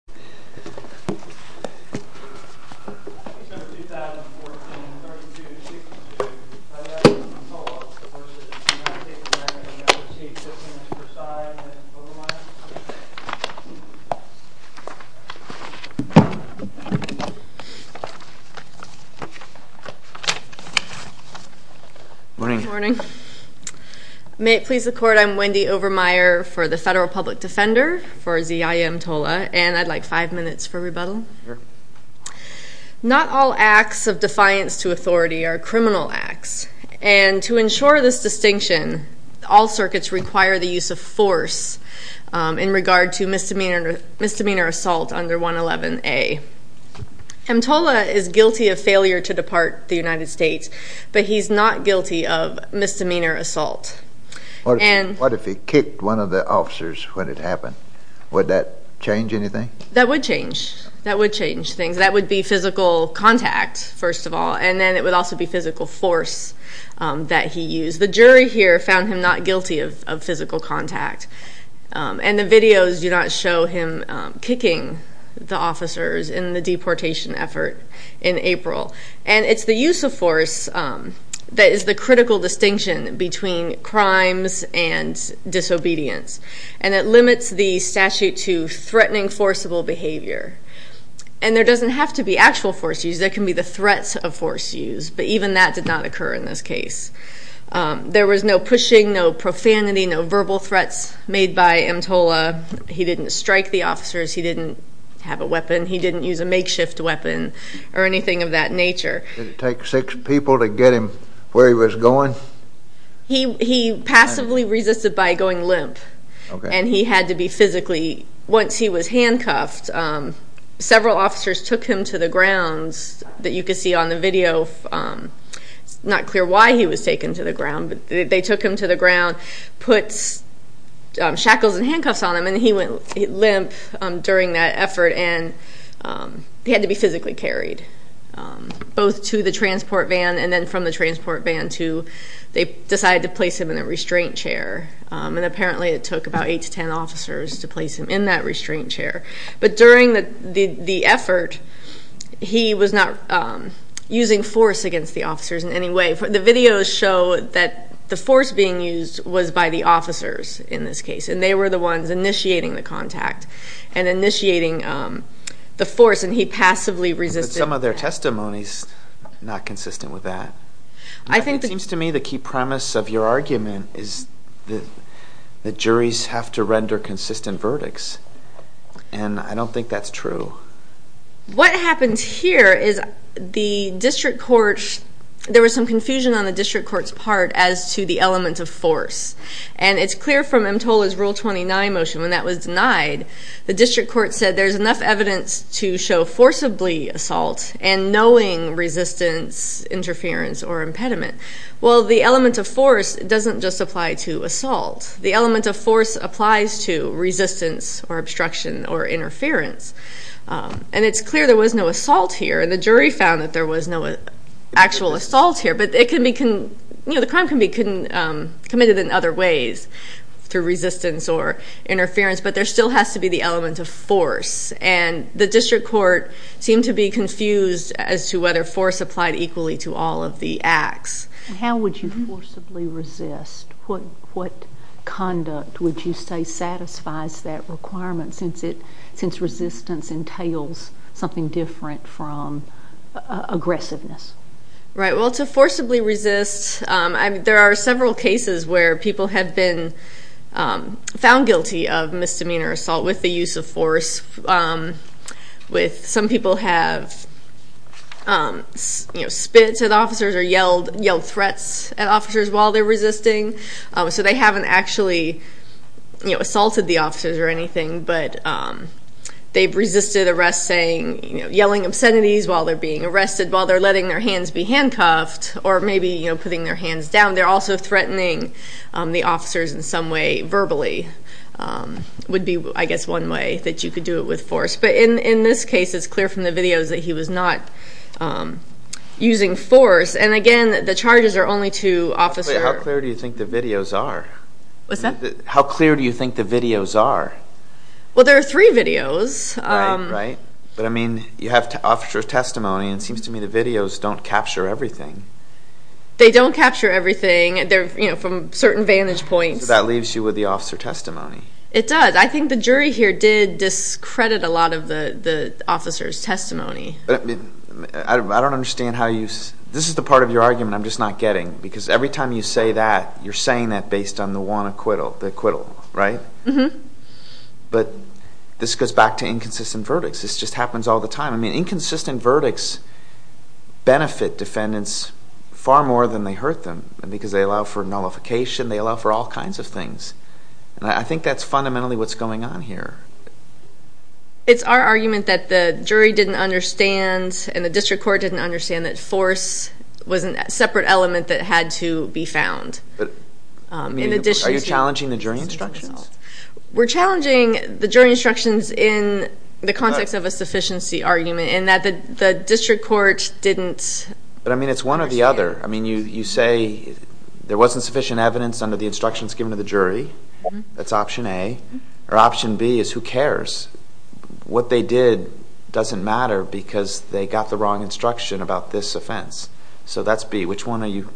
Senators 2014, 32, 62, Ziyaya Mtola v. United States Senator and Appreciate 15 Mr. Prasad and Wendy Overmeyer. Good morning. May it please the Court, I'm Wendy Overmeyer for the Federal Public Defender for Ziyaya Mtola and I'd like five minutes for rebuttal. Not all acts of defiance to authority are criminal acts and to ensure this distinction all circuits require the use of force in regard to misdemeanor assault under 111A. Mtola is guilty of failure to depart the United States, but he's not guilty of misdemeanor assault. What if he kicked one of the officers when it happened? Would that change anything? That would change. That would change things. That would be physical contact, first of all, and then it would also be physical force that he used. The jury here found him not guilty of physical contact and the videos do not show him kicking the officers in the deportation effort in April. It's the use of force that is the critical distinction between crimes and disobedience and it limits the statute to threatening forcible behavior. There doesn't have to be actual force use, there can be the threats of force use, but even that did not occur in this case. There was no pushing, no profanity, no verbal threats made by Mtola. He didn't strike the officers, he didn't have a weapon, he didn't use a makeshift weapon or anything of that nature. Did it take six people to get him where he was going? He passively resisted by going limp and he had to be physically, once he was handcuffed, several officers took him to the grounds that you can see on the video, it's not clear why he was taken to the ground, but they took him to the ground, put shackles and handcuffs on him and he went limp during that effort and he had to be physically carried both to the transport van and then from the transport van to, they decided to place him in a restraint chair and apparently it took about eight to ten officers to place him in that restraint chair. But during the effort, he was not using force against the officers in any way. The videos show that the force being used was by the officers in this case and they were the ones initiating the contact and initiating the force and he passively resisted. Some of their testimonies are not consistent with that. I think it seems to me the key premise of your argument is that the juries have to render consistent verdicts and I don't think that's true. What happens here is the district court, there was some confusion on the district court's part as to the element of force. And it's clear from EMTOLA's Rule 29 motion when that was denied, the district court said there's enough evidence to show forcibly assault and knowing resistance, interference or impediment. Well the element of force doesn't just apply to assault. The element of force applies to resistance or obstruction or interference. And it's clear there was no assault here and the jury found that there was no actual assault here but it can be, the crime can be committed in other ways through resistance or interference but there still has to be the element of force and the district court seemed to be confused as to whether force applied equally to all of the acts. How would you forcibly resist? What conduct would you say satisfies that requirement since resistance entails something different from aggressiveness? Right, well to forcibly resist, there are several cases where people have been found guilty of misdemeanor assault with the use of force with some people have spit at officers or yelled threats at officers while they're resisting so they haven't actually assaulted the officers or anything but they've resisted arrest saying, yelling obscenities while they're being arrested, while they're letting their hands be handcuffed or maybe putting their hands down. They're also threatening the officers in some way verbally would be I guess one way that you could do it with force but in this case it's clear from the videos that he was not using force and again the charges are only to officers. Wait, how clear do you think the videos are? What's that? How clear do you think the videos are? Well there are three videos. Right, right. But I mean you have officer testimony and it seems to me the videos don't capture everything. They don't capture everything, they're from certain vantage points. That leaves you with the officer testimony. It does. I think the jury here did discredit a lot of the officer's testimony. I don't understand how you, this is the part of your argument I'm just not getting because every time you say that, you're saying that based on the one acquittal, the acquittal, right? Right. But this goes back to inconsistent verdicts. This just happens all the time. I mean inconsistent verdicts benefit defendants far more than they hurt them because they allow for nullification, they allow for all kinds of things and I think that's fundamentally what's going on here. It's our argument that the jury didn't understand and the district court didn't understand that force was a separate element that had to be found. Are you challenging the jury instructions? We're challenging the jury instructions in the context of a sufficiency argument and that the district court didn't understand. But I mean it's one or the other. I mean you say there wasn't sufficient evidence under the instructions given to the jury. That's option A. Or option B is who cares? What they did doesn't matter because they got the wrong instruction about this offense. So that's B. Which one are you?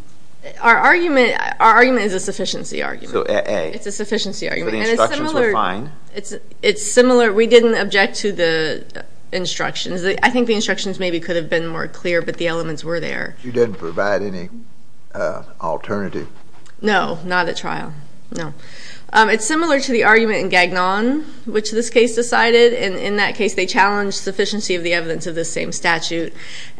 Our argument is a sufficiency argument. So A. It's a sufficiency argument. So the instructions were fine? It's similar. We didn't object to the instructions. I think the instructions maybe could have been more clear but the elements were there. You didn't provide any alternative? No. Not at trial. No. It's similar to the argument in Gagnon which this case decided and in that case they challenged sufficiency of the evidence of the same statute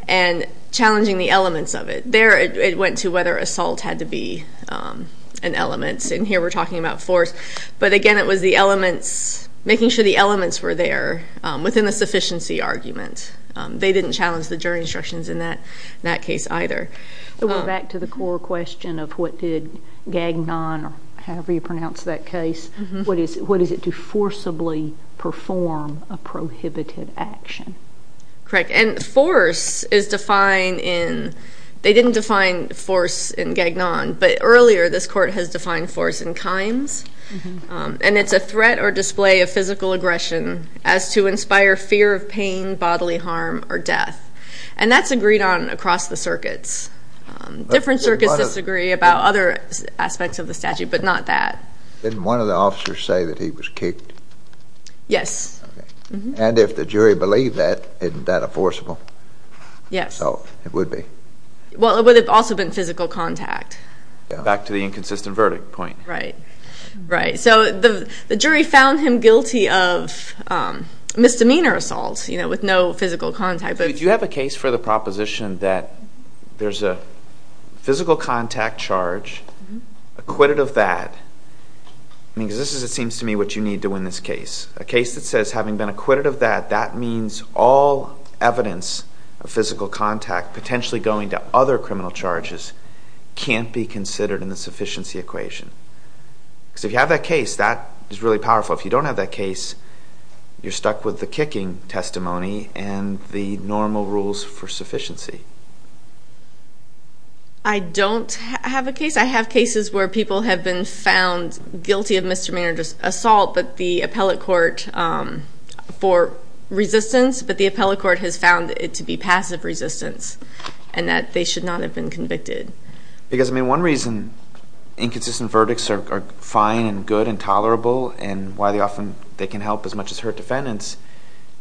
and challenging the elements of it. There it went to whether assault had to be an element and here we're talking about force. But again it was the elements, making sure the elements were there within the sufficiency argument. They didn't challenge the jury instructions in that case either. So we're back to the core question of what did Gagnon or however you pronounce that case, what is it to forcibly perform a prohibited action? Correct. And force is defined in, they didn't define force in Gagnon but earlier this court has defined force in Kimes and it's a threat or display of physical aggression as to inspire fear of pain, bodily harm or death. And that's agreed on across the circuits. Different circuits disagree about other aspects of the statute but not that. Didn't one of the officers say that he was kicked? Yes. And if the jury believed that, isn't that a forcible assault? Yes. It would be. Well it would have also been physical contact. Back to the inconsistent verdict point. Right. Right. So the jury found him guilty of misdemeanor assault with no physical contact. Do you have a case for the proposition that there's a physical contact charge, acquitted of that, because this seems to me what you need to win this case. A case that says having been acquitted of that, that means all evidence of physical contact potentially going to other criminal charges can't be considered in the sufficiency equation. Because if you have that case, that is really powerful. If you don't have that case, you're stuck with the kicking testimony and the normal rules for sufficiency. I don't have a case. I have cases where people have been found guilty of misdemeanor assault but the appellate court for resistance, but the appellate court has found it to be passive resistance and that they should not have been convicted. Because I mean one reason inconsistent verdicts are fine and good and tolerable and why they often, they can help as much as hurt defendants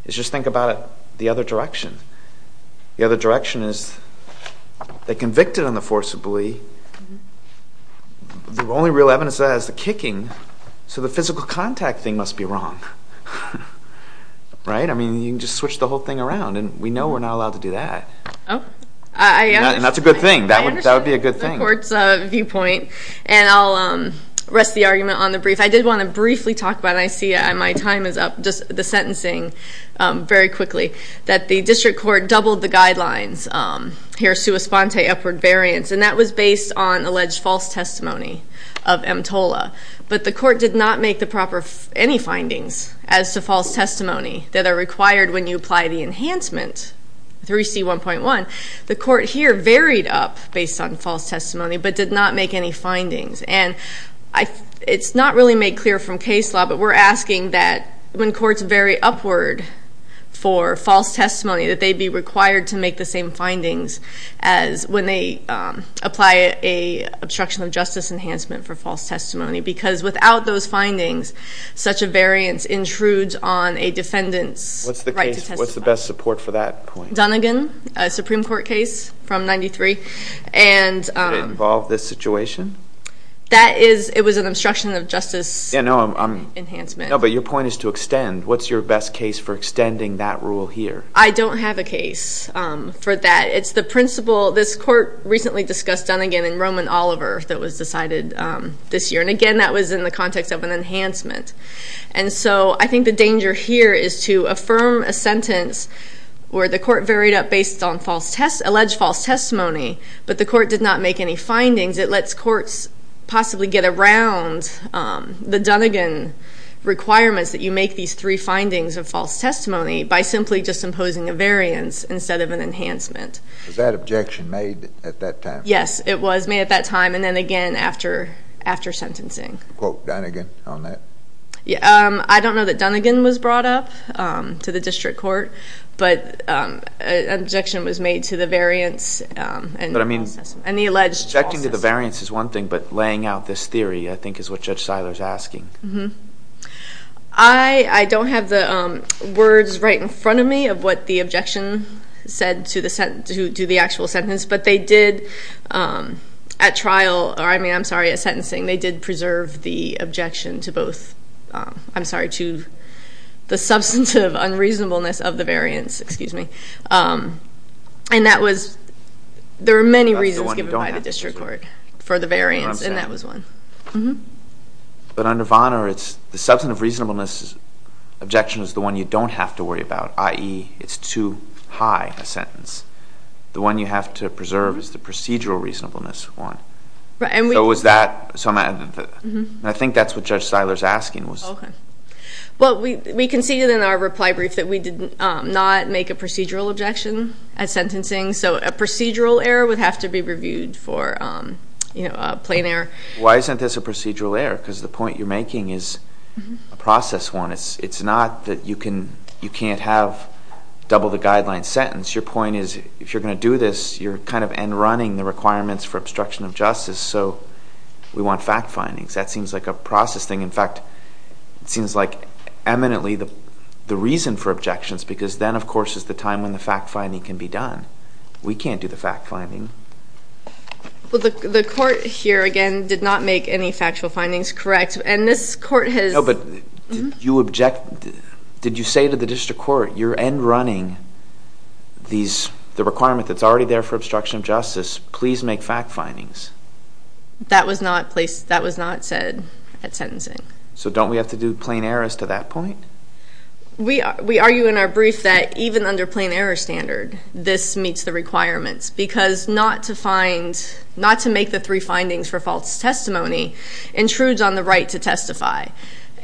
is just think about it the other direction. The other direction is they convicted on the forcibly, the only real evidence of that is the kicking. So the physical contact thing must be wrong, right? I mean you can just switch the whole thing around and we know we're not allowed to do that. Oh, I understand. And that's a good thing. That would be a good thing. I understand the court's viewpoint and I'll rest the argument on the brief. I did want to briefly talk about, and I see my time is up, just the sentencing very quickly, that the district court doubled the guidelines here, sua sponte, upward variance, and that was based on alleged false testimony of EMTOLA. But the court did not make the proper, any findings as to false testimony that are required when you apply the enhancement, 3C1.1. The court here varied up based on false testimony, but did not make any findings. And it's not really made clear from case law, but we're asking that when courts vary upward for false testimony, that they be required to make the same findings as when they apply a obstruction of justice enhancement for false testimony. Because without those findings, such a variance intrudes on a defendant's right to testify. What's the best support for that point? Dunnigan, a Supreme Court case from 93. And did it involve this situation? That is, it was an obstruction of justice enhancement. Enhancement. No, but your point is to extend. What's your best case for extending that rule here? I don't have a case for that. It's the principle, this court recently discussed Dunnigan and Roman Oliver that was decided this year. And again, that was in the context of an enhancement. And so I think the danger here is to affirm a sentence where the court varied up based on false test, alleged false testimony, but the court did not make any findings. It lets courts possibly get around the Dunnigan requirements that you make these three findings of false testimony by simply just imposing a variance instead of an enhancement. Was that objection made at that time? Yes, it was made at that time and then again after sentencing. Quote Dunnigan on that? I don't know that Dunnigan was brought up to the district court, but an objection was made to the variance and the alleged false testimony. Objecting to the variance is one thing, but laying out this theory, I think, is what Judge Seiler's asking. I don't have the words right in front of me of what the objection said to the actual sentence. But they did, at trial, or I mean, I'm sorry, at sentencing, they did preserve the objection to both. I'm sorry, to the substantive unreasonableness of the variance, excuse me. And that was, there are many reasons given by the district court for the variance, and that was one. But under Vonner, it's the substantive reasonableness objection is the one you don't have to worry about, i.e., it's too high a sentence. The one you have to preserve is the procedural reasonableness one. So was that, and I think that's what Judge Seiler's asking was. Okay, well, we conceded in our reply brief that we did not make a procedural objection at sentencing. So a procedural error would have to be reviewed for a plain error. Why isn't this a procedural error? because the point you're making is a process one. It's not that you can't have double the guideline sentence. Your point is, if you're going to do this, you're kind of end running the requirements for obstruction of justice. So we want fact findings. That seems like a process thing. In fact, it seems like eminently the reason for objections, because then, of course, is the time when the fact finding can be done. We can't do the fact finding. Well, the court here, again, did not make any factual findings correct. And this court has- No, but did you object, did you say to the district court, you're end running the requirement that's already there for obstruction of justice. Please make fact findings. That was not placed, that was not said at sentencing. So don't we have to do plain errors to that point? We argue in our brief that even under plain error standard, this meets the requirements. Because not to find, not to make the three findings for false testimony intrudes on the right to testify.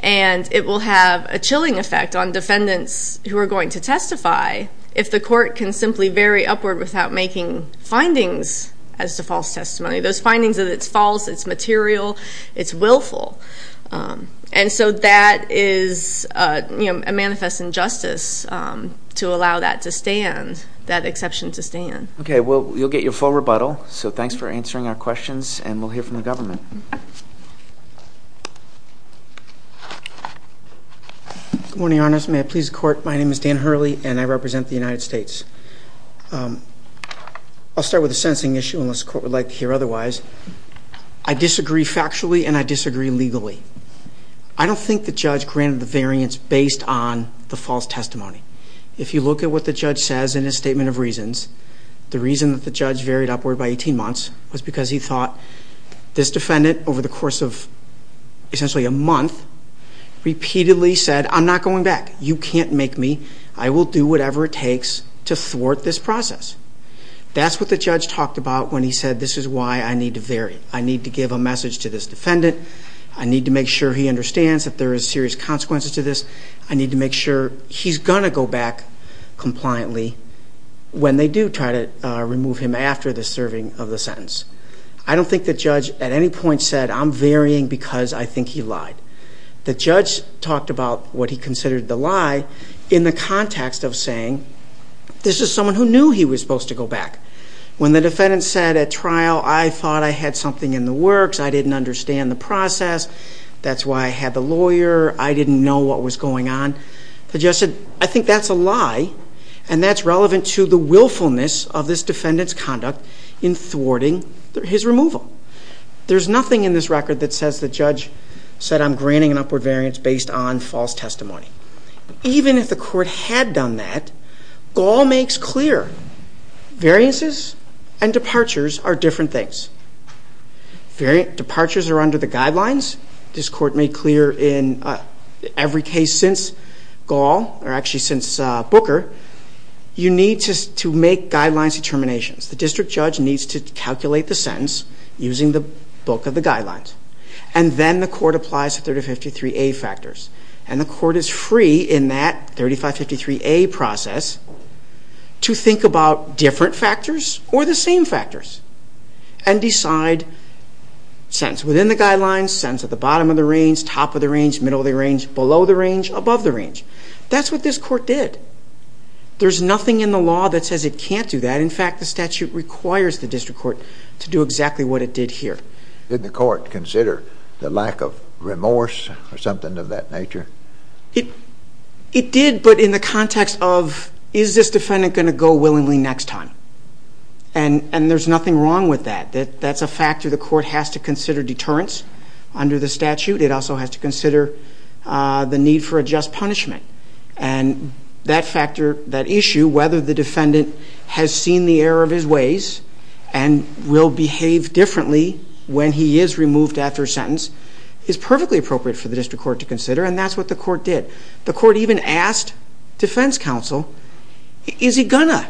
And it will have a chilling effect on defendants who are going to testify, if the court can simply vary upward without making findings as to false testimony. Those findings that it's false, it's material, it's willful. And so that is a manifest injustice to allow that to stand, that exception to stand. Okay, well, you'll get your full rebuttal. So thanks for answering our questions, and we'll hear from the government. May it please the court. My name is Dan Hurley, and I represent the United States. I'll start with a sentencing issue, unless the court would like to hear otherwise. I disagree factually, and I disagree legally. I don't think the judge granted the variance based on the false testimony. If you look at what the judge says in his statement of reasons, the reason that the judge varied upward by 18 months was because he thought this defendant, over the course of essentially a month, repeatedly said, I'm not going back. You can't make me. I will do whatever it takes to thwart this process. That's what the judge talked about when he said, this is why I need to vary. I need to give a message to this defendant. I need to make sure he understands that there is serious consequences to this. I need to make sure he's gonna go back compliantly when they do try to remove him after the serving of the sentence. I don't think the judge at any point said, I'm varying because I think he lied. The judge talked about what he considered the lie in the context of saying, this is someone who knew he was supposed to go back. When the defendant said at trial, I thought I had something in the works. I didn't understand the process. That's why I had the lawyer. I didn't know what was going on. The judge said, I think that's a lie. And that's relevant to the willfulness of this defendant's conduct in thwarting his removal. There's nothing in this record that says the judge said, I'm granting an upward variance based on false testimony. Even if the court had done that, Gaul makes clear variances and departures are different things. Departures are under the guidelines. This court made clear in every case since Gaul, or actually since Booker, you need to make guidelines determinations. The district judge needs to calculate the sentence using the book of the guidelines. And then the court applies 353A factors. And the court is free in that 3553A process to think about different factors or the same factors and decide sentence within the guidelines, sentence at the bottom of the range, top of the range, middle of the range, below the range, above the range. That's what this court did. There's nothing in the law that says it can't do that. In fact, the statute requires the district court to do exactly what it did here. Did the court consider the lack of remorse or something of that nature? It did, but in the context of, is this defendant going to go willingly next time? And there's nothing wrong with that. That's a factor the court has to consider deterrence under the statute. It also has to consider the need for a just punishment. And that factor, that issue, whether the defendant has seen the error of his ways, and will behave differently when he is removed after a sentence, is perfectly appropriate for the district court to consider. And that's what the court did. The court even asked defense counsel, is he gonna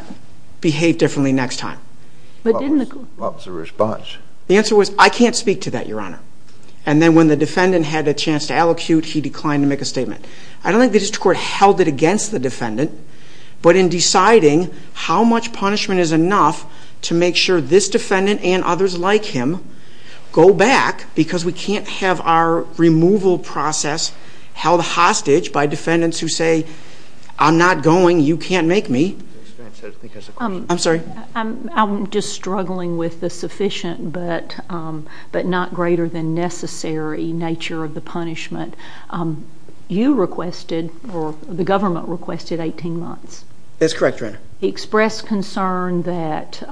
behave differently next time? But didn't the- What was the response? The answer was, I can't speak to that, your honor. And then when the defendant had a chance to allocute, he declined to make a statement. I don't think the district court held it against the defendant. But in deciding how much punishment is enough to make sure this defendant and others like him go back, because we can't have our removal process held hostage by defendants who say, I'm not going, you can't make me. I'm sorry. I'm just struggling with the sufficient but not greater than necessary nature of the punishment. You requested, or the government requested 18 months. That's correct, your honor. Express concern that,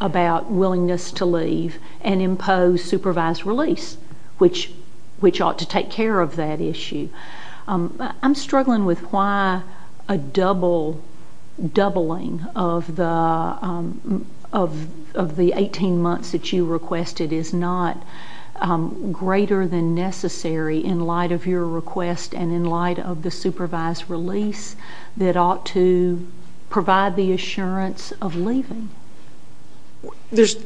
about willingness to leave, and impose supervised release, which ought to take care of that issue. I'm struggling with why a double, doubling of the 18 months that you requested is not greater than necessary in light of your request and in light of the supervised release that ought to provide the assurance of leaving. There's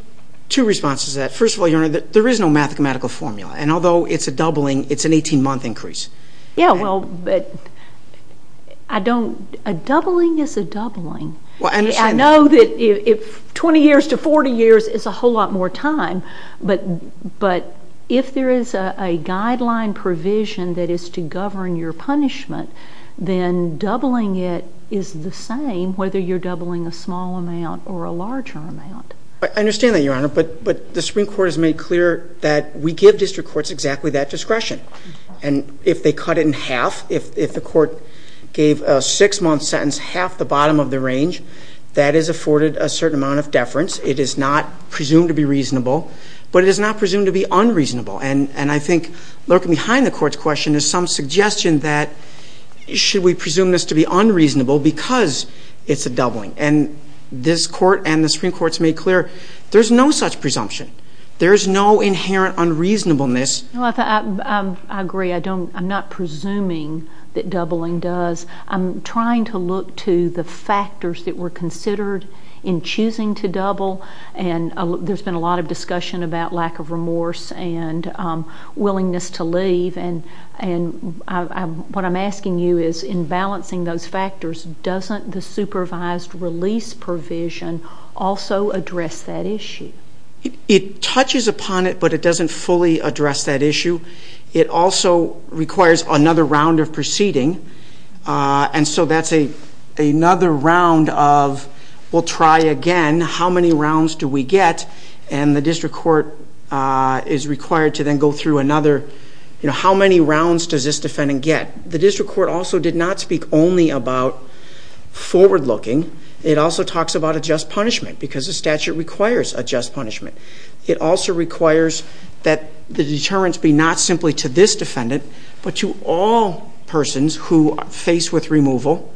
two responses to that. First of all, your honor, there is no mathematical formula. And although it's a doubling, it's an 18 month increase. Yeah, well, but a doubling is a doubling. I know that 20 years to 40 years is a whole lot more time. But if there is a guideline provision that is to govern your punishment, then doubling it is the same whether you're doubling a small amount or a larger amount. I understand that, your honor. But the Supreme Court has made clear that we give district courts exactly that discretion. And if they cut it in half, if the court gave a six month sentence half the bottom of the range, that is afforded a certain amount of deference. It is not presumed to be reasonable, but it is not presumed to be unreasonable. And I think lurking behind the court's question is some suggestion that, should we presume this to be unreasonable because it's a doubling? And this court and the Supreme Court's made clear there's no such presumption. There's no inherent unreasonableness. Well, I agree. I'm not presuming that doubling does. I'm trying to look to the factors that were considered in choosing to double. And there's been a lot of discussion about lack of remorse and willingness to leave. And what I'm asking you is, in balancing those factors, doesn't the supervised release provision also address that issue? It touches upon it, but it doesn't fully address that issue. It also requires another round of proceeding. And so that's another round of, we'll try again, how many rounds do we get? And the district court is required to then go through another, how many rounds does this defendant get? The district court also did not speak only about forward looking. It also talks about a just punishment, because the statute requires a just punishment. It also requires that the deterrence be not simply to this defendant, but to all persons who face with removal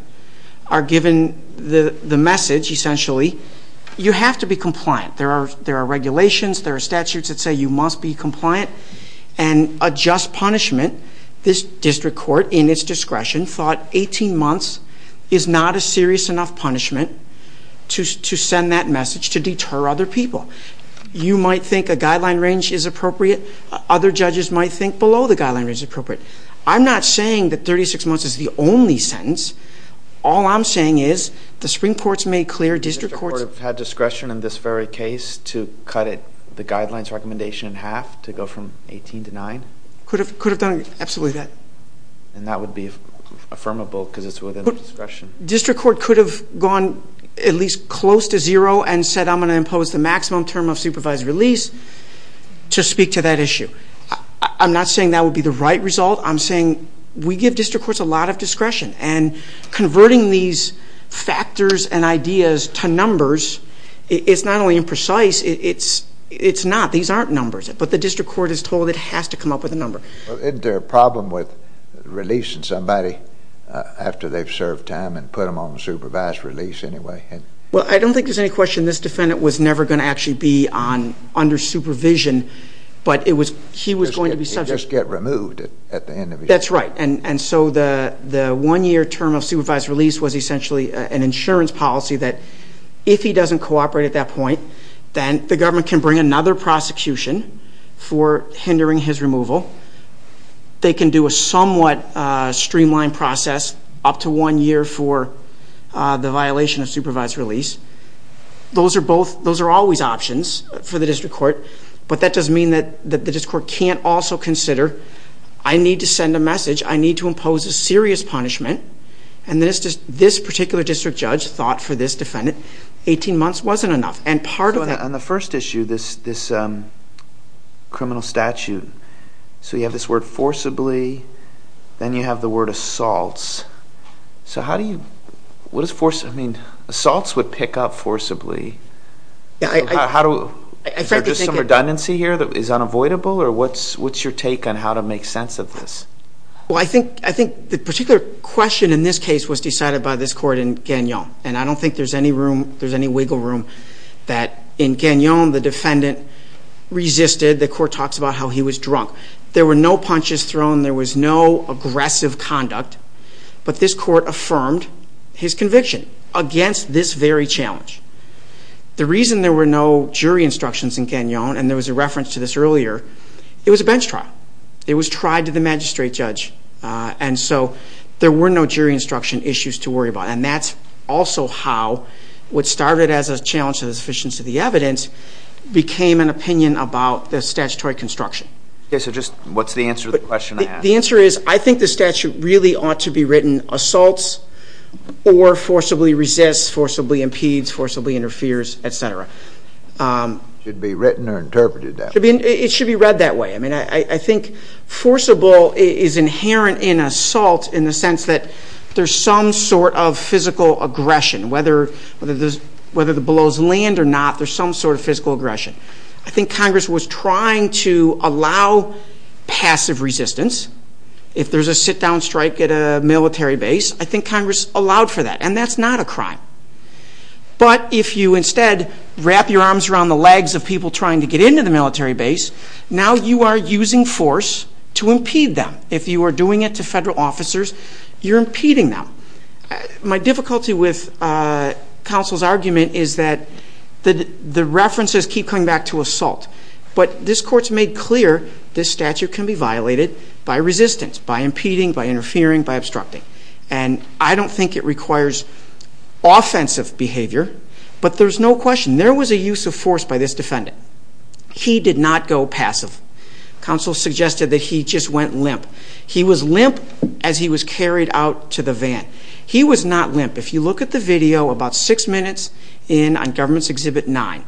are given the message, essentially, you have to be compliant. There are regulations, there are statutes that say you must be compliant. And a just punishment, this district court, in its discretion, thought 18 months is not a serious enough punishment to send that message, to deter other people. You might think a guideline range is appropriate. Other judges might think below the guideline range is appropriate. I'm not saying that 36 months is the only sentence. All I'm saying is, the Supreme Court's made clear, district courts- The district court have had discretion in this very case to cut it, the guidelines recommendation in half, to go from 18 to 9? Could have done absolutely that. And that would be affirmable, because it's within the discretion. District court could have gone at least close to zero and said, I'm going to impose the maximum term of supervised release, to speak to that issue. I'm not saying that would be the right result. I'm saying, we give district courts a lot of discretion. And converting these factors and ideas to numbers, it's not only imprecise, it's not. These aren't numbers. But the district court is told it has to come up with a number. Isn't there a problem with releasing somebody after they've served time, and put them on supervised release anyway? Well, I don't think there's any question this defendant was never going to actually be under supervision. But he was going to be subject- He'd just get removed at the end of his term. That's right. And so the one-year term of supervised release was essentially an insurance policy that, if he doesn't cooperate at that point, then the government can bring another prosecution for hindering his removal. They can do a somewhat streamlined process, up to one year for the violation of supervised release. Those are always options for the district court. But that doesn't mean that the district court can't also consider, I need to send a message. I need to impose a serious punishment. And this particular district judge thought for this defendant, 18 months wasn't enough. And part of that- I'm going to ask you this criminal statute. So you have this word forcibly. Then you have the word assaults. So how do you- what does force- I mean, assaults would pick up forcibly. How do- is there just some redundancy here that is unavoidable? Or what's your take on how to make sense of this? Well, I think the particular question in this case was decided by this court in Gagnon. And I don't think there's any room, there's any wiggle room, that in Gagnon, the defendant resisted. The court talks about how he was drunk. There were no punches thrown. There was no aggressive conduct. But this court affirmed his conviction against this very challenge. The reason there were no jury instructions in Gagnon, and there was a reference to this earlier, it was a bench trial. It was tried to the magistrate judge. And so there were no jury instruction issues to worry about. And that's also how what started as a challenge to the sufficiency of the evidence became an opinion about the statutory construction. So just what's the answer to the question? The answer is I think the statute really ought to be written assaults or forcibly resists, forcibly impedes, forcibly interferes, et cetera. Should be written or interpreted that way. It should be read that way. I mean, I think forcible is inherent in assault in the sense that there's some sort of physical aggression, whether it blows land or not, there's some sort of physical aggression. I think Congress was trying to allow passive resistance. If there's a sit-down strike at a military base, I think Congress allowed for that. And that's not a crime. But if you instead wrap your arms around the legs of people trying to get into the military base, now you are using force to impede them. If you are doing it to federal officers, you're impeding them. My difficulty with counsel's argument is that the references keep coming back to assault. But this court's made clear this statute can be violated by resistance, by impeding, by interfering, by obstructing. And I don't think it requires offensive behavior, but there's no question there was a use of force by this defendant. He did not go passive. Counsel suggested that he just went limp. He was limp as he was carried out to the van. He was not limp. If you look at the video about six minutes in on Government's Exhibit 9,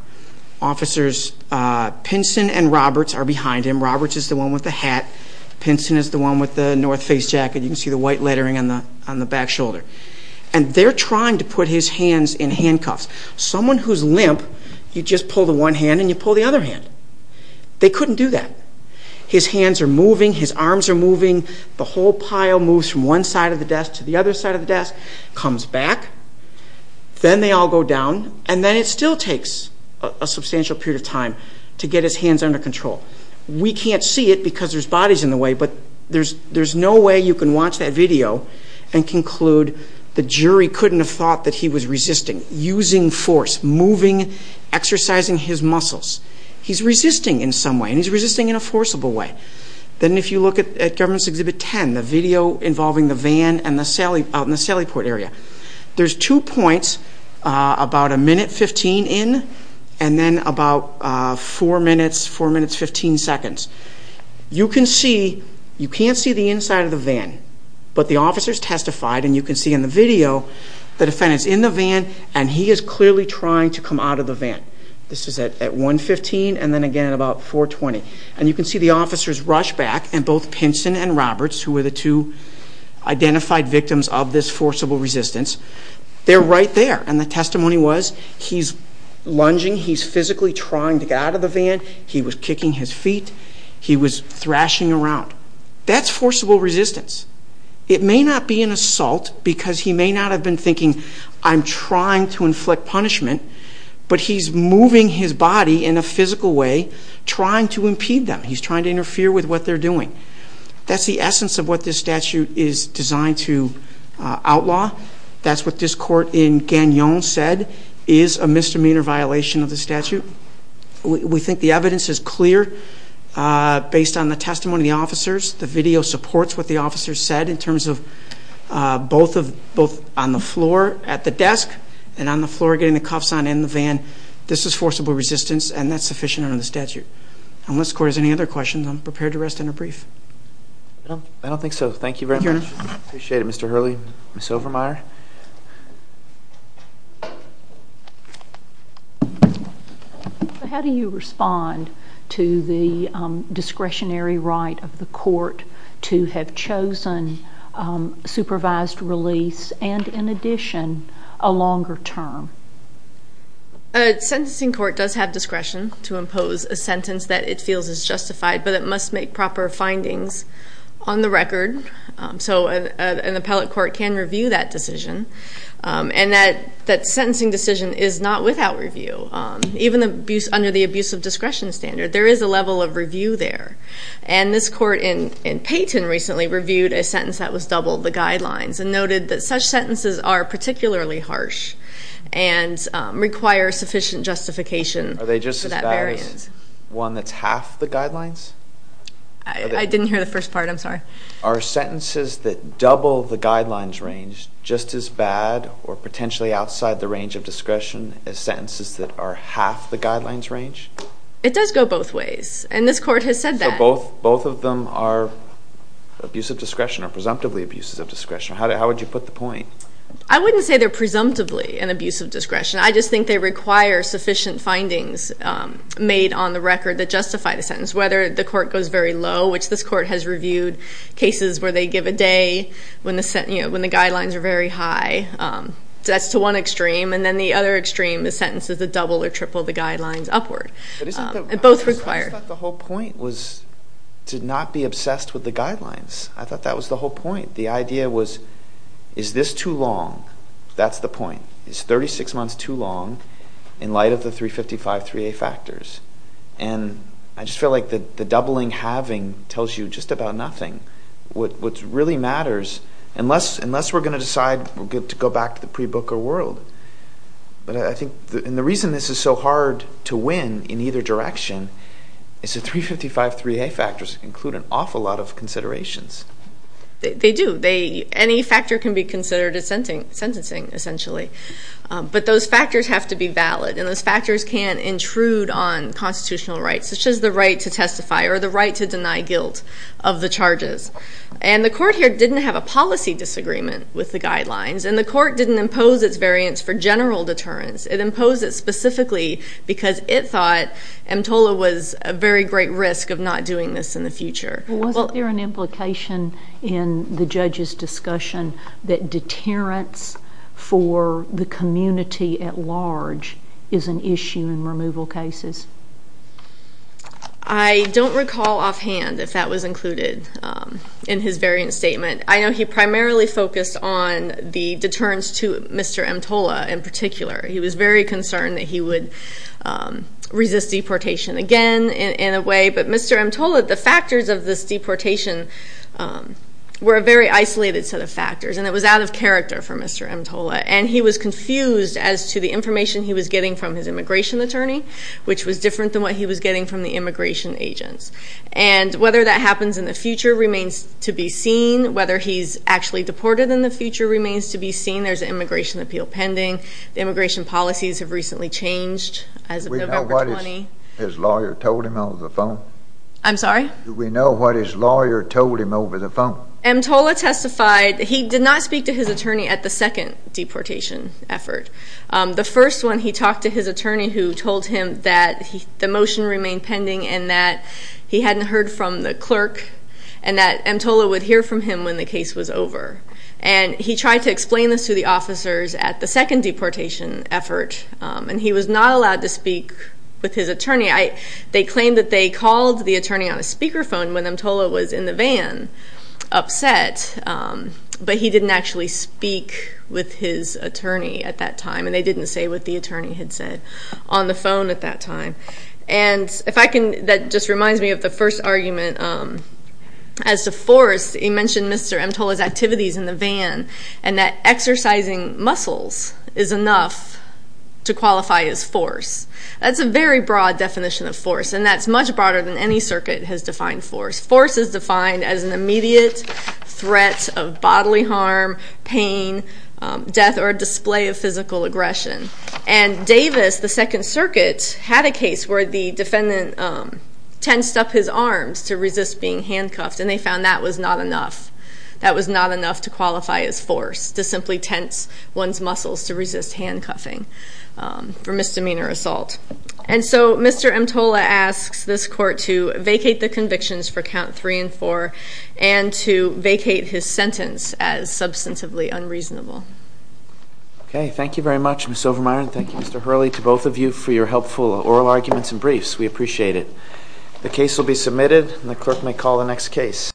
officers Pinson and Roberts are behind him. Roberts is the one with the hat. Pinson is the one with the North face jacket. You can see the white lettering on the back shoulder. And they're trying to put his hands in handcuffs. Someone who's limp, you just pull the one hand and you pull the other hand. They couldn't do that. His hands are moving, his arms are moving, the whole pile moves from one side of the desk to the other side of the desk, comes back, then they all go down, and then it still takes a substantial period of time to get his hands under control. We can't see it because there's bodies in the way, but there's no way you can watch that video and conclude the jury couldn't have thought that he was resisting, using force, moving, exercising his muscles. He's resisting in some way, and he's resisting in a forcible way. Then if you look at Government's Exhibit 10, the video involving the van out in the Sallyport area, there's two points, about a minute 15 in, and then about four minutes, four minutes 15 seconds. You can see, you can't see the inside of the van, but the officers testified and you can see in the video, the defendant's in the van and he is clearly trying to come out of the van. This is at 1.15 and then again at about 4.20. And you can see the officers rush back and both Pinson and Roberts, who were the two identified victims of this forcible resistance, they're right there. And the testimony was, he's lunging, he's physically trying to get out of the van, he was kicking his feet, he was thrashing around. That's forcible resistance. It may not be an assault because he may not have been thinking, I'm trying to inflict punishment, but he's moving his body in a physical way, trying to impede them, he's trying to interfere with what they're doing. That's the essence of what this statute is designed to outlaw. That's what this court in Gagnon said, is a misdemeanor violation of the statute. We think the evidence is clear based on the testimony of the officers. The video supports what the officers said in terms of both on the floor at the desk and on the floor getting the cuffs on in the van, this is forcible resistance and that's sufficient under the statute. Unless the court has any other questions, I'm prepared to rest in a brief. I don't think so. Thank you very much. Appreciate it, Mr. Hurley. Ms. Overmyer. How do you respond to the discretionary right of the court to have chosen supervised release and in addition, a longer term? A sentencing court does have discretion to impose a sentence that it feels is justified, but it must make proper findings on the record. So an appellate court can review that decision. And that sentencing decision is not without review. Even under the abuse of discretion standard, there is a level of review there. And this court in Payton recently reviewed a sentence that was double the guidelines and noted that such sentences are particularly harsh and require sufficient justification. Are they just as bad as one that's half the guidelines? I didn't hear the first part, I'm sorry. Are sentences that double the guidelines range just as bad or potentially outside the range of discretion as sentences that are half the guidelines range? It does go both ways, and this court has said that. Both of them are abuse of discretion or presumptively abuses of discretion. How would you put the point? I wouldn't say they're presumptively an abuse of discretion. I just think they require sufficient findings made on the record that justify the sentence. Whether the court goes very low, which this court has reviewed cases where they give a day when the guidelines are very high. That's to one extreme, and then the other extreme is sentences that double or triple the guidelines upward. It both requires- I thought the whole point was to not be obsessed with the guidelines. I thought that was the whole point. The idea was, is this too long? That's the point. Is 36 months too long in light of the 355-3A factors? And I just feel like the doubling-halving tells you just about nothing. What really matters, unless we're going to decide to go back to the pre-Booker world. But I think, and the reason this is so hard to win in either direction is the 355-3A factors include an awful lot of considerations. They do. Any factor can be considered a sentencing, essentially. But those factors have to be valid, and those factors can intrude on constitutional rights, such as the right to testify or the right to deny guilt of the charges. And the court here didn't have a policy disagreement with the guidelines, and the court didn't impose its variance for general deterrence. It imposed it specifically because it thought EMTOLA was a very great risk of not doing this in the future. Well, wasn't there an implication in the judge's discussion that deterrence for the community at large is an issue in removal cases? I don't recall offhand if that was included in his variance statement. I know he primarily focused on the deterrence to Mr. EMTOLA in particular. He was very concerned that he would resist deportation again in a way. But Mr. EMTOLA, the factors of this deportation were a very isolated set of factors, and it was out of character for Mr. EMTOLA. And he was confused as to the information he was getting from his immigration attorney, which was different than what he was getting from the immigration agents. And whether that happens in the future remains to be seen. Whether he's actually deported in the future remains to be seen. There's an immigration appeal pending. The immigration policies have recently changed as of November 20. His lawyer told him over the phone? I'm sorry? Do we know what his lawyer told him over the phone? EMTOLA testified, he did not speak to his attorney at the second deportation effort. The first one, he talked to his attorney who told him that the motion remained pending and that he hadn't heard from the clerk, and that EMTOLA would hear from him when the case was over. And he tried to explain this to the officers at the second deportation effort, and he was not allowed to speak with his attorney. They claimed that they called the attorney on a speakerphone when EMTOLA was in the van upset, but he didn't actually speak with his attorney at that time. And they didn't say what the attorney had said on the phone at that time. And if I can, that just reminds me of the first argument. As to force, he mentioned Mr. EMTOLA's activities in the van, and that exercising muscles is enough to qualify as force. That's a very broad definition of force, and that's much broader than any circuit has defined force. Force is defined as an immediate threat of bodily harm, pain, death, or display of physical aggression. And Davis, the second circuit, had a case where the defendant tensed up his arms to resist being handcuffed, and they found that was not enough. To qualify as force, to simply tense one's muscles to resist handcuffing for misdemeanor assault. And so Mr. EMTOLA asks this court to vacate the convictions for count three and four, and to vacate his sentence as substantively unreasonable. Okay, thank you very much, Ms. Overmyer, and thank you, Mr. Hurley, to both of you for your helpful oral arguments and briefs. We appreciate it. The case will be submitted, and the clerk may call the next case.